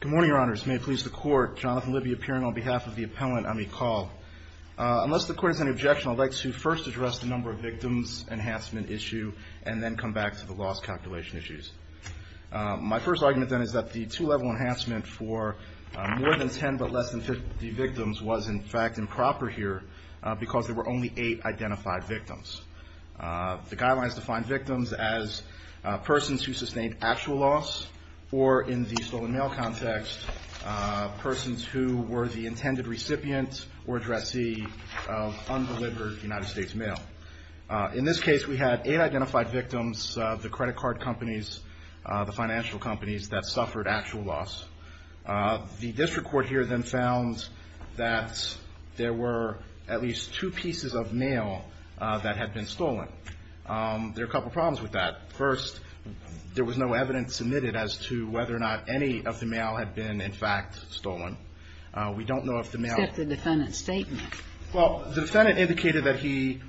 Good morning, Your Honors. May it please the Court, Jonathan Libby appearing on behalf of the appellant, Ami Kaul. Unless the Court has any objection, I'd like to first address the number of victims enhancement issue and then come back to the loss calculation issues. My first argument, then, is that the two-level enhancement for more than 10 but less than 50 victims was, in fact, improper here because there were only eight identified victims. The guidelines define victims as persons who sustained actual loss or, in the stolen mail context, persons who were the intended recipient or addressee of undelivered United States mail. In this case, we had eight identified victims of the credit card companies, the financial companies that suffered actual loss. The district court here then found that there were at least two pieces of mail that had been stolen. There are a couple of problems with that. First, there was no evidence submitted as to whether or not any of the mail had been, in fact, stolen. We don't know if the mail was stolen. Except the defendant's statement. Well, the defendant indicated that he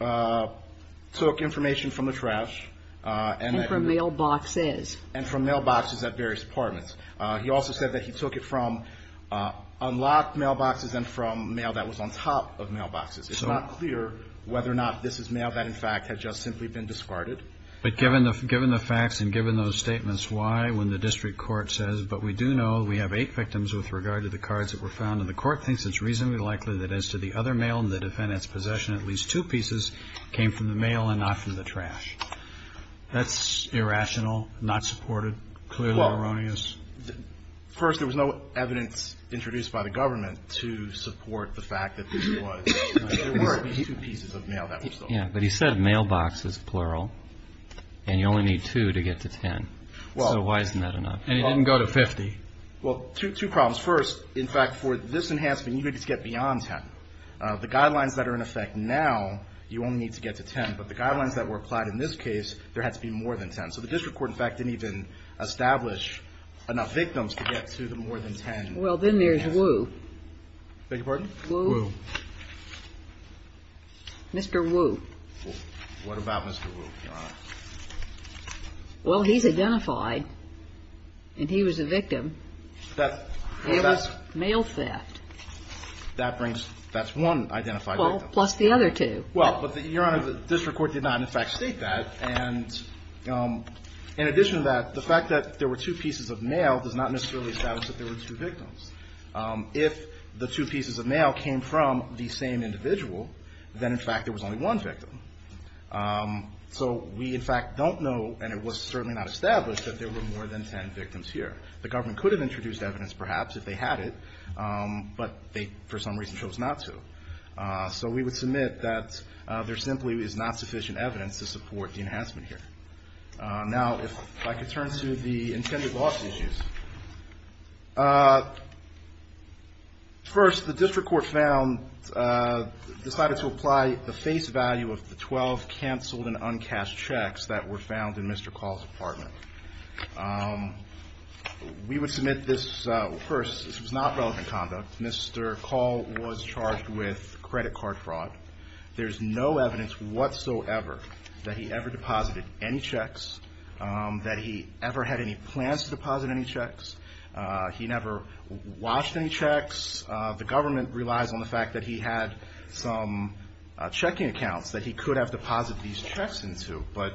took information from the trash and that he And from mailboxes. And from mailboxes at various departments. He also said that he took it from unlocked mailboxes and from mail that was on top of mailboxes. It's not clear whether or not this is mail that, in fact, had just simply been discarded. But given the facts and given those statements, why, when the district court says, but we do know we have eight victims with regard to the cards that were found, and the court thinks it's reasonably likely that as to the other mail in the defendant's possession, at least two pieces came from the mail and not from the trash. That's irrational, not supported, clearly erroneous. First, there was no evidence introduced by the government to support the fact that this was two pieces of mail that were stolen. Yeah, but he said mailboxes, plural, and you only need two to get to 10. So why isn't that enough? And he didn't go to 50. Well, two problems. First, in fact, for this enhancement, you needed to get beyond 10. The guidelines that are in effect now, you only need to get to 10. But the guidelines that were applied in this case, there had to be more than 10. So the victims could get to the more than 10. Well, then there's Wu. Beg your pardon? Wu. Mr. Wu. What about Mr. Wu, Your Honor? Well, he's identified, and he was a victim of mail theft. That brings, that's one identified victim. Well, plus the other two. Well, but Your Honor, the district court did not in fact state that. And in addition to that, the fact that there were two pieces of mail does not necessarily establish that there were two victims. If the two pieces of mail came from the same individual, then in fact there was only one victim. So we in fact don't know, and it was certainly not established, that there were more than 10 victims here. The government could have introduced evidence perhaps if they had it, but they for some reason chose not to. So we would submit that there simply is not sufficient evidence to support the enhancement here. Now, if I could turn to the intended loss issues. First, the district court found, decided to apply the face value of the 12 canceled and uncashed checks that were found in Mr. Call's apartment. We would submit this, first, this was not relevant conduct. Mr. Call was charged with credit card fraud. There's no evidence whatsoever that he ever deposited any checks, that he ever had any plans to deposit any checks. He never watched any checks. The government relies on the fact that he had some checking accounts that he could have deposited these checks into. But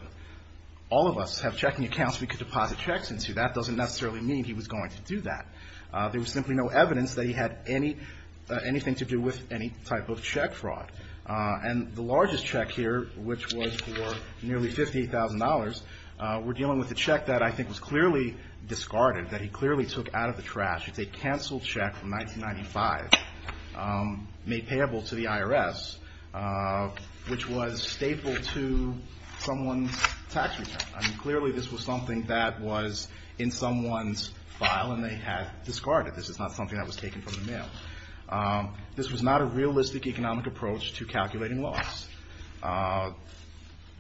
all of us have checking accounts we could deposit checks into. That doesn't necessarily mean he was going to do that. There was simply no evidence that he had any, anything to do with any type of check fraud. And the largest check here, which was for nearly $50,000, we're dealing with a check that I think was clearly discarded, that he clearly took out of the trash. It's a canceled check from 1995, made payable to the IRS, which was staple to someone's tax return. I mean, clearly this was something that was in someone's file and they had discarded it. This is not something that was taken from the mail. This was not a realistic economic approach to calculating loss.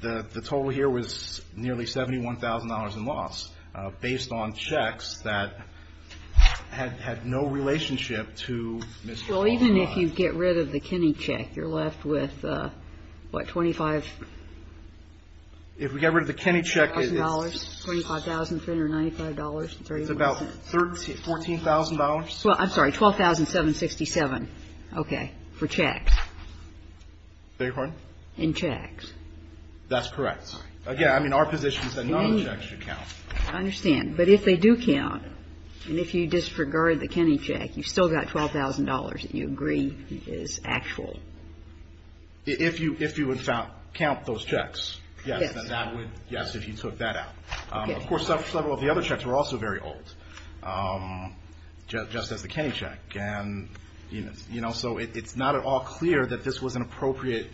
The total here was nearly $71,000 in loss based on checks that had no relationship to Mr. Waller's loss. Well, even if you get rid of the Kenney check, you're left with, what, $25,000? If we get rid of the Kenney check, it's about $14,000. Well, I'm sorry, $12,767, okay, for checks. Beg your pardon? In checks. That's correct. Again, I mean, our position is that none of the checks should count. I understand. But if they do count, and if you disregard the Kenney check, you've still got $12,000 that you agree is actual. If you would count those checks, yes, then that would, yes, if you took that out. Of course, several of the other checks were also very old, just as the Kenney check. And, you know, so it's not at all clear that this was an appropriate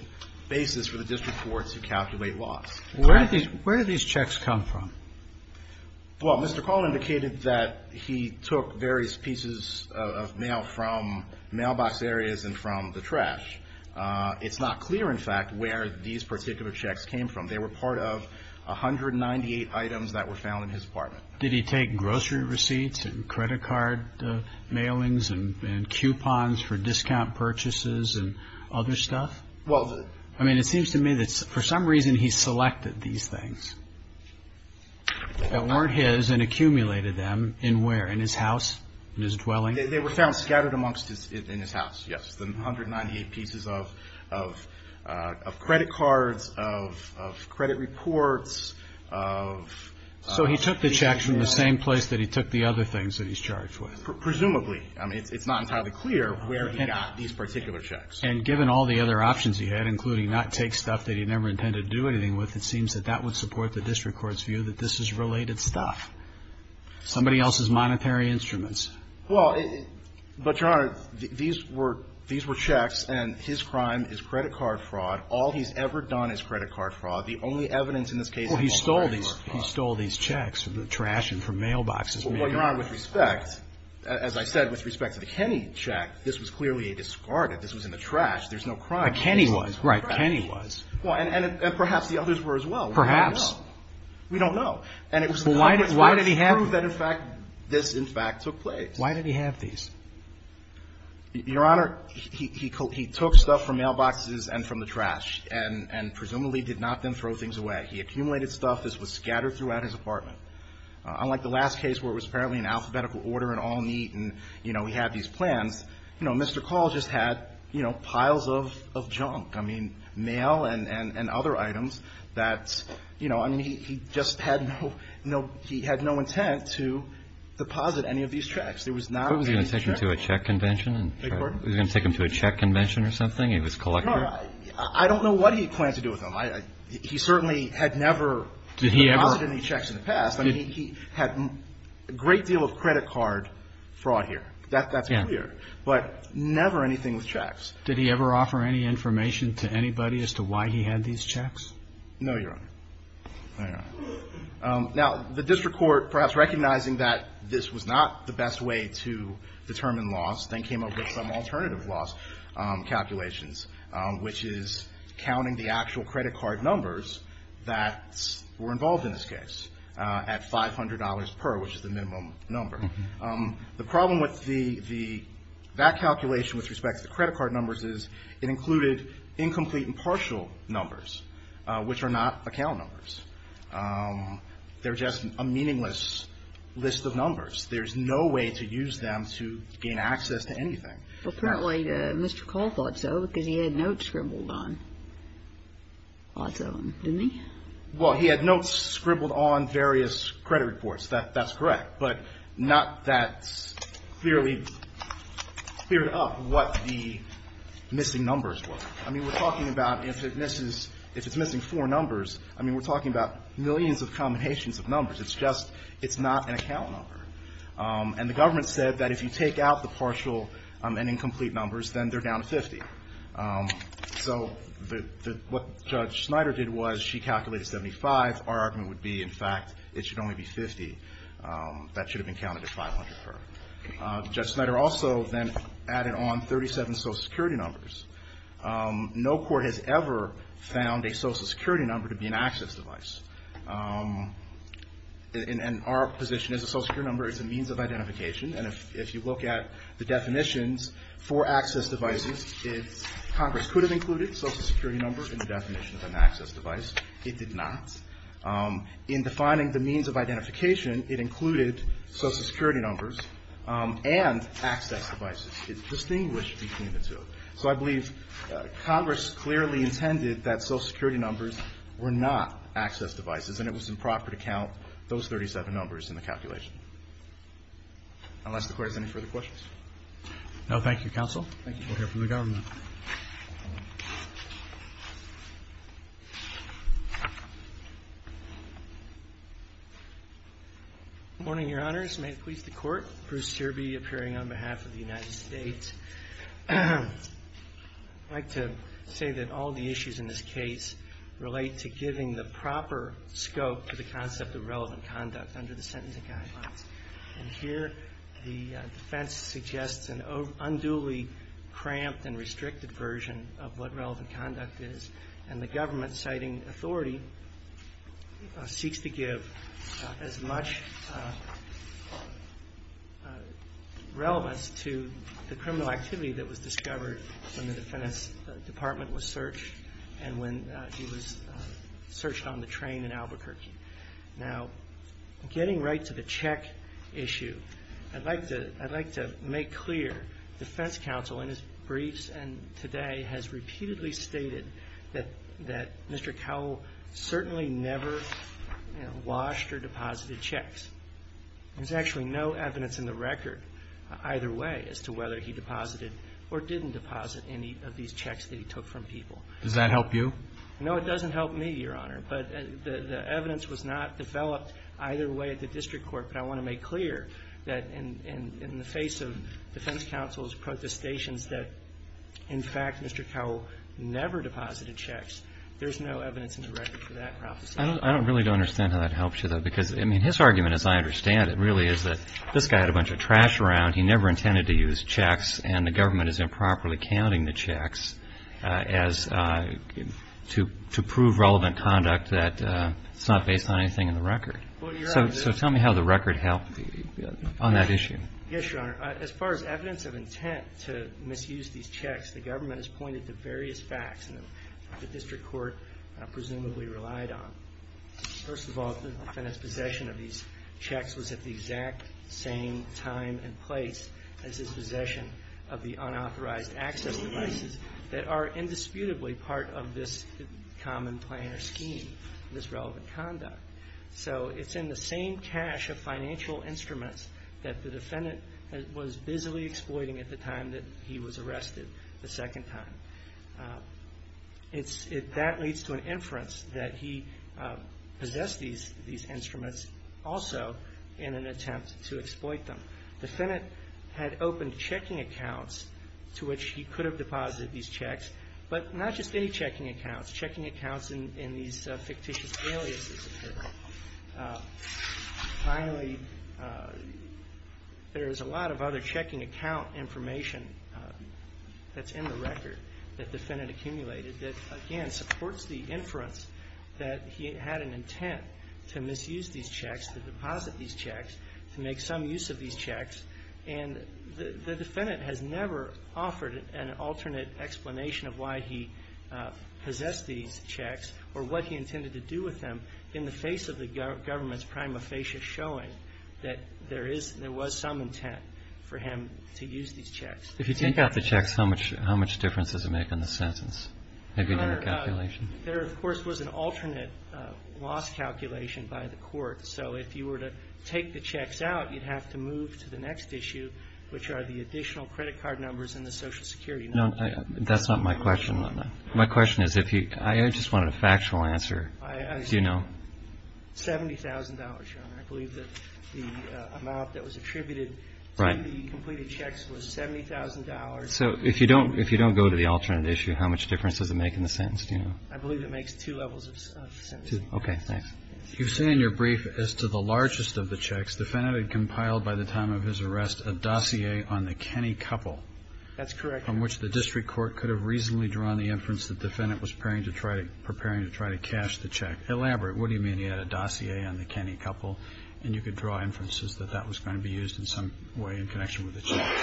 basis for the district court to calculate loss. Where did these checks come from? Well, Mr. Call indicated that he took various pieces of mail from mailbox areas and from the trash. It's not clear, in fact, where these particular checks came from. They were part of 198 items that were found in his apartment. Did he take grocery receipts and credit card mailings and coupons for discount purchases and other stuff? Well, I mean, it seems to me that for some reason he selected these things that weren't his and accumulated them in where, in his house, in his dwelling? They were found scattered amongst his, in his house, yes. The 198 pieces of credit cards, of credit reports, of things that he had. So he took the checks from the same place that he took the other things that he's charged with? Presumably. I mean, it's not entirely clear where he got these particular checks. And given all the other options he had, including not take stuff that he never intended to do anything with, it seems that that would support the district court's view that this is related stuff, somebody else's monetary instruments. Well, but, Your Honor, these were checks, and his crime is credit card fraud. All he's ever done is credit card fraud. The only evidence in this case that he stole these checks from the trash and from mailboxes. Well, Your Honor, with respect, as I said, with respect to the Kenny check, this was clearly a discarded. This was in the trash. There's no crime. But Kenny was. Right. Kenny was. And perhaps the others were as well. Perhaps. We don't know. And it was the Congress court that proved that, in fact, this, in fact, took place. Why did he have these? Your Honor, he took stuff from mailboxes and from the trash, and presumably did not then throw things away. He accumulated stuff. This was scattered throughout his apartment. Unlike the last case, where it was apparently in alphabetical order and all neat, and, you know, he had these plans, you know, Mr. Call just had, you know, piles of junk, I mean, mail and other items that, you know, I mean, he just had no intent to deposit any of these checks. There was not any checks. What was he going to take them to a check convention? Beg your pardon? Was he going to take them to a check convention or something? He was collecting them? No, I don't know what he planned to do with them. He certainly had never deposited any checks in the past. I mean, he had a great deal of credit card fraud here. That's clear. But never anything with checks. No, Your Honor. All right. Now, the district court, perhaps recognizing that this was not the best way to determine loss, then came up with some alternative loss calculations, which is counting the actual credit card numbers that were involved in this case at $500 per, which is the minimum number. The problem with that calculation with respect to the credit card numbers is it included incomplete and partial numbers, which are not account numbers. They're just a meaningless list of numbers. There's no way to use them to gain access to anything. Apparently, Mr. Cole thought so because he had notes scribbled on. Thought so, didn't he? Well, he had notes scribbled on various credit reports. That's correct. But not that clearly cleared up what the missing numbers were. I mean, we're talking about if it's missing four numbers, I mean, we're talking about millions of combinations of numbers. It's just it's not an account number. And the government said that if you take out the partial and incomplete numbers, then they're down to 50. So what Judge Snyder did was she calculated 75. Our argument would be, in fact, it should only be 50. That should have been counted at 500 per. Judge Snyder also then added on 37 social security numbers. No court has ever found a social security number to be an access device. And our position is a social security number is a means of identification. And if you look at the definitions for access devices, Congress could have included social security numbers in the definition of an access device. It did not. In defining the means of identification, it included social security numbers and access devices. It's distinguished between the two. So I believe Congress clearly intended that social security numbers were not access devices. And it was improper to count those 37 numbers in the calculation. Unless the court has any further questions. No, thank you, counsel. Thank you. We'll hear from the government. Good morning, your honors. May it please the court. Bruce Serby appearing on behalf of the United States. I'd like to say that all the issues in this case relate to giving the proper scope to the concept of relevant conduct under the sentencing guidelines. And here the defense suggests an unduly cramped and restricted version of what relevant conduct is. And the government, citing authority, seeks to give as much relevance to the criminal activity that was discovered when the defense department was searched and when he was searched on the train in Albuquerque. Now, getting right to the check issue, I'd like to make clear, defense counsel in his briefs and today has repeatedly stated that Mr. Cowell certainly never washed or deposited checks. There's actually no evidence in the record, either way, as to whether he deposited or didn't deposit any of these checks that he took from people. Does that help you? No, it doesn't help me, your honor. But the evidence was not developed either way at the district court. But I want to make clear that in the face of defense counsel's protestations that, in fact, Mr. Cowell never deposited checks, there's no evidence in the record for that prophecy. I don't really understand how that helps you, though. Because, I mean, his argument, as I understand it, really is that this guy had a bunch of trash around. He never intended to use checks. And the government is improperly counting the checks to prove relevant conduct that's not based on anything in the record. So tell me how the record helped on that issue. Yes, your honor. As far as evidence of intent to misuse these checks, the government has pointed to various facts that the district court presumably relied on. First of all, the defendant's possession of these checks was at the exact same time and place as his possession of the unauthorized access devices that are indisputably part of this common plan or scheme, this relevant conduct. So it's in the same cache of financial instruments that the defendant was busily exploiting at the time that he was arrested, the second time. That leads to an inference that he possessed these instruments also in an attempt to exploit them. The defendant had opened checking accounts to which he could have deposited these checks. But not just any checking accounts, checking accounts in these fictitious aliases, if you will. Finally, there's a lot of other checking account information that's in the record that the defendant accumulated that, again, supports the inference that he had an intent to misuse these checks, to deposit these checks, to make some use of these checks. And the defendant has never offered an alternate explanation of why he possessed these checks or what he intended to do with them in the face of the government's prima facie showing that there is, there was some intent for him to use these checks. If you take out the checks, how much, how much difference does it make in the sentence? There, of course, was an alternate loss calculation by the court. So if you were to take the checks out, you'd have to move to the next issue, which are the additional credit card numbers and the Social Security numbers. No, that's not my question. My question is, if you, I just wanted a factual answer, do you know? $70,000, Your Honor, I believe that the amount that was attributed to the completed checks was $70,000. So if you don't, if you don't go to the alternate issue, how much difference does it make in the sentence? Do you know? I believe it makes two levels of the sentence. Okay, thanks. You've said in your brief as to the largest of the checks, the defendant had compiled by the time of his arrest a dossier on the Kenney couple. That's correct. On which the district court could have reasonably drawn the inference that the defendant was preparing to try to, preparing to try to cash the check. Elaborate, what do you mean he had a dossier on the Kenney couple? And you could draw inferences that that was going to be used in some way in connection with the check?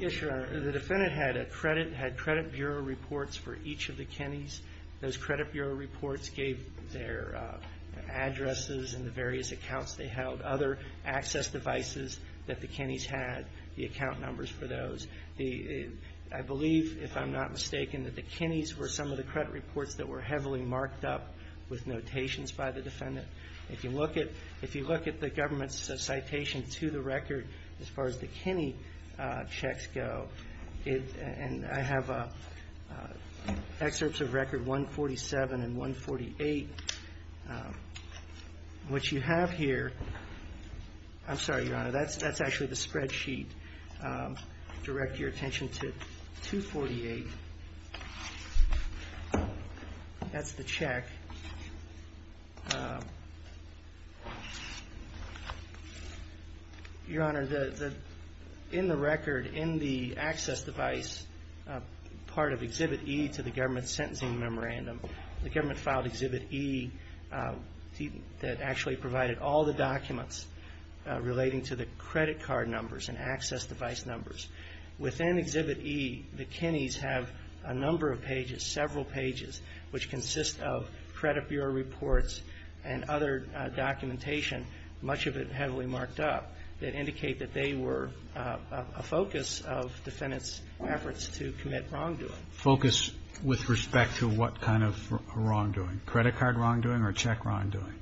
Yes, Your Honor. The defendant had a credit, had credit bureau reports for each of the Kenneys. Those credit bureau reports gave their addresses and the various accounts they held. Other access devices that the Kenneys had, the account numbers for those. The, I believe, if I'm not mistaken, that the Kenneys were some of the credit reports that were heavily marked up with notations by the defendant. If you look at, if you look at the government's citation to the record, as far as the Kenney checks go, it, and I have excerpts of record 147 and 148, which you have here. I'm sorry, Your Honor. That's, that's actually the spreadsheet. Direct your attention to 248. That's the check. Your Honor, the, in the record, in the access device, part of Exhibit E to the government sentencing memorandum, the government filed Exhibit E that actually provided all the documents relating to the credit card numbers and access device numbers. Within Exhibit E, the Kenneys have a number of pages, several pages, which consist of credit bureau reports and other documentation, much of it heavily marked up, that indicate that they were a focus of defendants' efforts to commit wrongdoing. Focus with respect to what kind of wrongdoing? Credit card wrongdoing or check wrongdoing?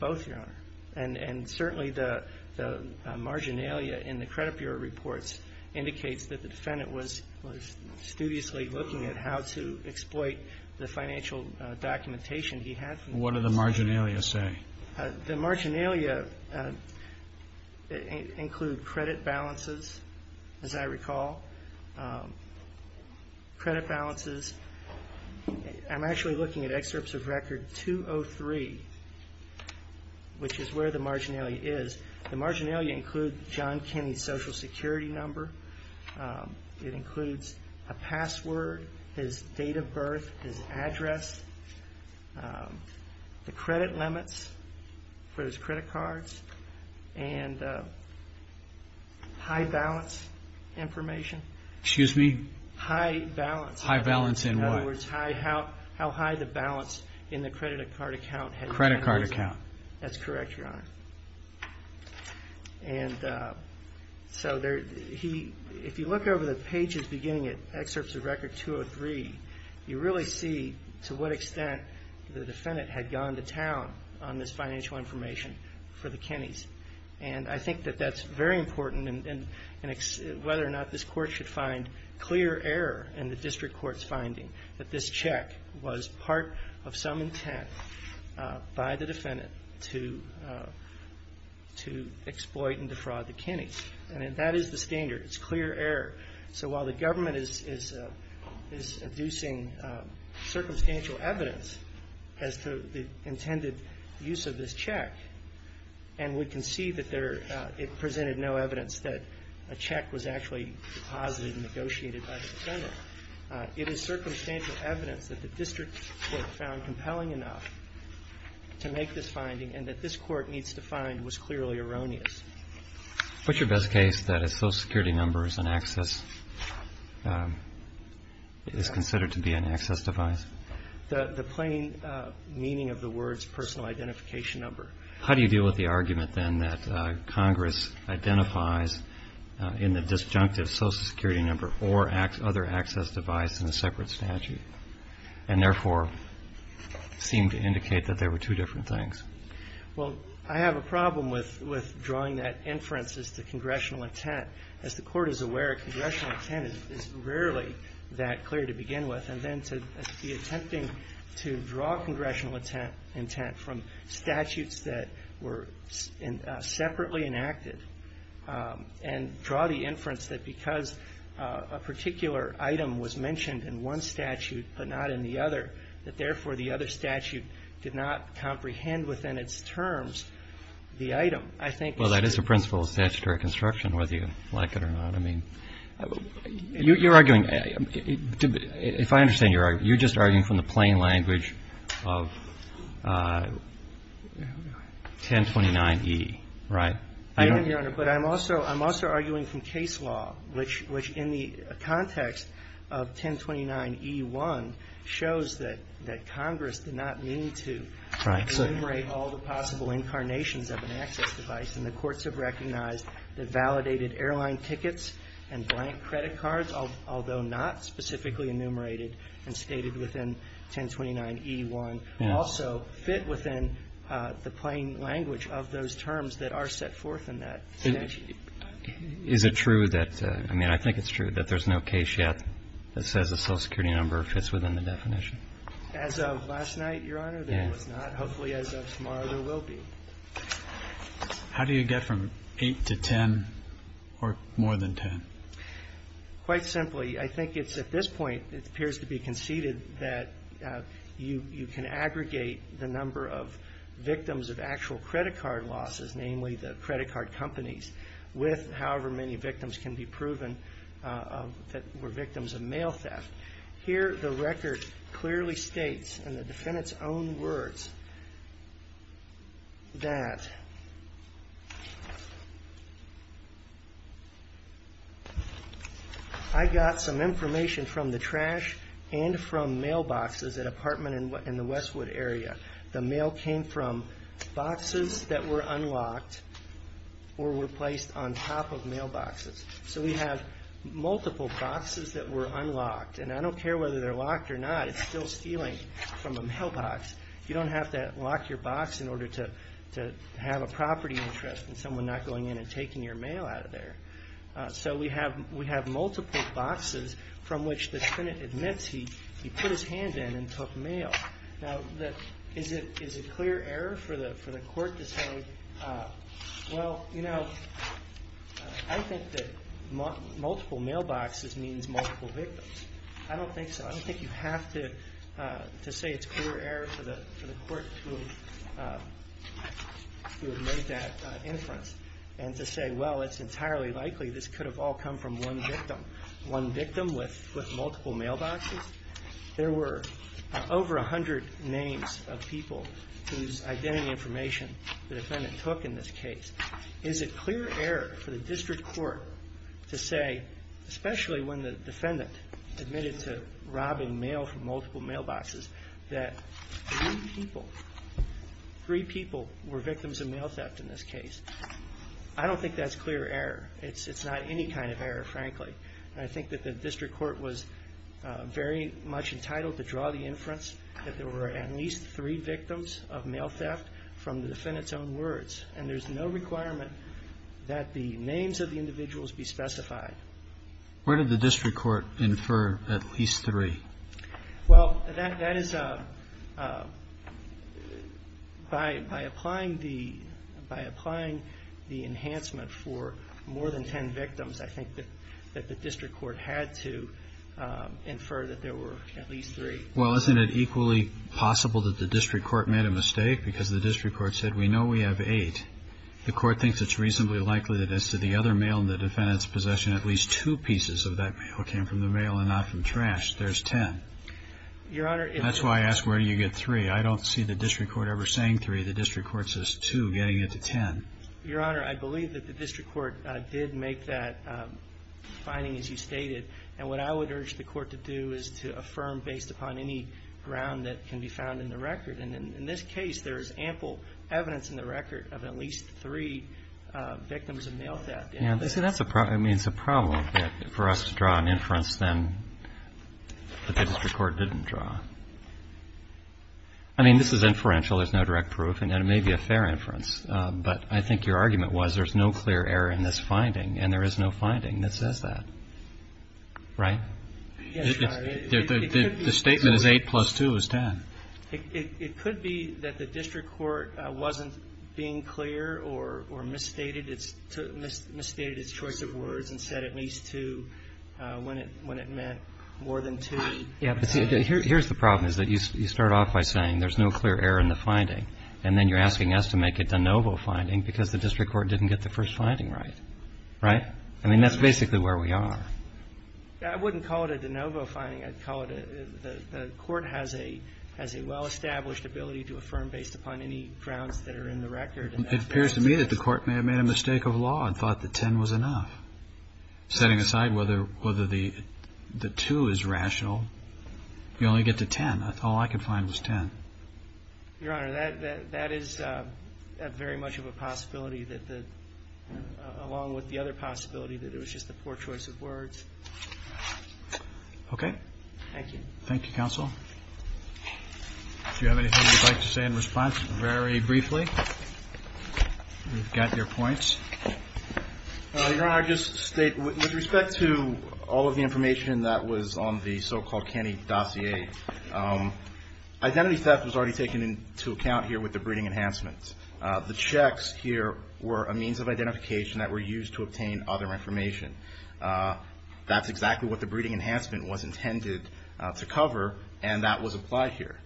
Both, Your Honor. And, and certainly the, the marginalia in the credit bureau reports indicates that the defendant was, was studiously looking at how to exploit the financial documentation he had. What did the marginalia say? The marginalia include credit balances, as I recall, credit balances. I'm actually looking at excerpts of Record 203, which is where the marginalia is. The marginalia include John Kenney's social security number. It includes a password, his date of birth, his address, the credit limits for his credit cards, and high balance information. Excuse me? High balance. High balance in what? In other words, how, how high the balance in the credit card account had been. Credit card account. That's correct, Your Honor. And so there, he, if you look over the pages beginning at excerpts of Record 203, you really see to what extent the defendant had gone to town on this financial information for the Kenneys. And I think that that's very important and, and whether or not this court should find clear error in the district court's finding that this check was part of some intent by the defendant to, to exploit and defraud the Kenneys. And that is the standard. It's clear error. So while the government is, is, is inducing circumstantial evidence as to the intended use of this check, and we can see that there, it presented no evidence that a check was actually deposited and negotiated by the defendant. It is circumstantial evidence that the district court found compelling enough to make this finding and that this court needs to find was clearly erroneous. What's your best case that a social security number is an access, is considered to be an access device? The, the plain meaning of the words personal identification number. How do you deal with the argument then that Congress identifies in the disjunctive social security number or other access device in a separate statute and therefore seem to indicate that there were two different things? Well, I have a problem with, with drawing that inferences to congressional intent. As the court is aware, congressional intent is rarely that clear to begin with. And then to be attempting to draw congressional intent, intent from statutes that were in separately enacted and draw the inference that because a particular item was mentioned in one statute, but not in the other, that therefore the other statute did not comprehend with the other statute. Within its terms, the item, I think. Well, that is a principle of statutory construction, whether you like it or not. I mean, you, you're arguing, if I understand your argument, you're just arguing from the plain language of 1029E, right? I am, Your Honor, but I'm also, I'm also arguing from case law, which, which in the context of 1029E1 shows that, that Congress did not mean to enumerate all the possible incarnations of an access device. And the courts have recognized that validated airline tickets and blank credit cards, although not specifically enumerated and stated within 1029E1, also fit within the plain language of those terms that are set forth in that statute. Is it true that, I mean, I think it's true that there's no case yet that says a social security number fits within the definition? As of last night, Your Honor, there was not. Hopefully as of tomorrow, there will be. How do you get from 8 to 10 or more than 10? Quite simply, I think it's at this point, it appears to be conceded that you, you can aggregate the number of victims of actual credit card losses, namely the credit card companies, with however many victims can be proven that were victims of mail theft. Here, the record clearly states, in the defendant's own words, that I got some information from the trash and from mailboxes at an apartment in the Westwood area. The mail came from boxes that were unlocked or were placed on top of mailboxes. So we have multiple boxes that were unlocked, and I don't care whether they're locked or not, it's still stealing from a mailbox. You don't have to lock your box in order to have a property interest in someone not going in and taking your mail out of there. So we have multiple boxes from which the tenant admits he put his hand in and took mail. Now, is it clear error for the court to say, well, you know, I think that multiple mailboxes means multiple victims. I don't think so. I don't think you have to say it's clear error for the court to have made that inference. And to say, well, it's entirely likely this could have all come from one victim, one victim with multiple mailboxes. There were over 100 names of people whose identity information the defendant took in this case. Is it clear error for the district court to say, especially when the defendant admitted to robbing mail from multiple mailboxes, that three people, three people were victims of mail theft in this case? I don't think that's clear error. It's not any kind of error, frankly. I think that the district court was very much entitled to draw the inference that there were at least three victims of mail theft from the defendant's own words. And there's no requirement that the names of the individuals be specified. Where did the district court infer at least three? Well, that is, by applying the enhancement for more than 10 victims, I think that the district court had to infer that there were at least three. Well, isn't it equally possible that the district court made a mistake? Because the district court said, we know we have eight. The court thinks it's reasonably likely that as to the other mail in the defendant's possession, at least two pieces of that mail came from the mail and not from trash. There's 10. Your Honor. That's why I asked, where do you get three? I don't see the district court ever saying three. The district court says two, getting it to 10. Your Honor, I believe that the district court did make that finding, as you stated. And what I would urge the court to do is to affirm based upon any ground that can be found in the record. And in this case, there is ample evidence in the record of at least three victims of mail theft. Yeah, I mean, it's a problem for us to draw an inference then that the district court didn't draw. I mean, this is inferential. There's no direct proof. And it may be a fair inference. But I think your argument was there's no clear error in this finding. And there is no finding that says that, right? Yes, Your Honor. The statement is eight plus two is 10. It could be that the district court wasn't being clear or misstated its choice of words and said at least two when it meant more than two. Yeah, but see, here's the problem is that you start off by saying there's no clear error in the finding. And then you're asking us to make a de novo finding because the district court didn't get the first finding right. Right? I mean, that's basically where we are. I wouldn't call it a de novo finding. I'd call it the court has a well-established ability to affirm based upon any grounds that are in the record. It appears to me that the court may have made a mistake of law and thought that 10 was enough. Setting aside whether the two is rational, you only get to 10. All I could find was 10. Your Honor, that is very much of a possibility that along with the other possibility that it was just a poor choice of words. Okay. Thank you. Thank you, counsel. If you have anything you'd like to say in response, very briefly, we've got your points. Your Honor, I'll just state with respect to all of the information that was on the so-called canny dossier, identity theft was already taken into account here with the breeding enhancements. The checks here were a means of identification that were used to obtain other information. That's exactly what the breeding enhancement was intended to cover, and that was applied here.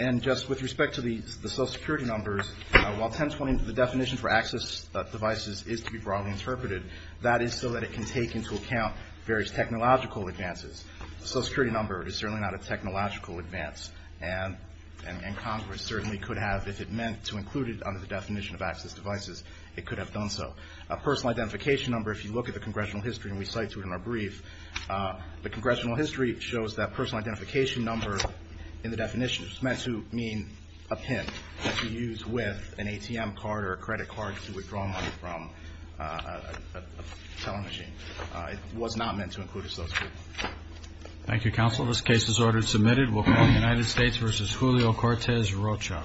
And just with respect to the social security numbers, while 1020, the definition for access devices is to be broadly interpreted, that is so that it can take into account various technological advances. The social security number is certainly not a technological advance, and Congress certainly could have, if it meant to include it under the definition of access devices, it could have done so. A personal identification number, if you look at the congressional history, and we cite to it in our brief, the congressional history shows that personal identification number in the definition is meant to mean a pin that you use with an ATM card or a credit card to withdraw money from a telling machine. It was not meant to include a social security number. Thank you, counsel. This case is ordered and submitted. We'll call the United States v. Julio Cortez Rocha.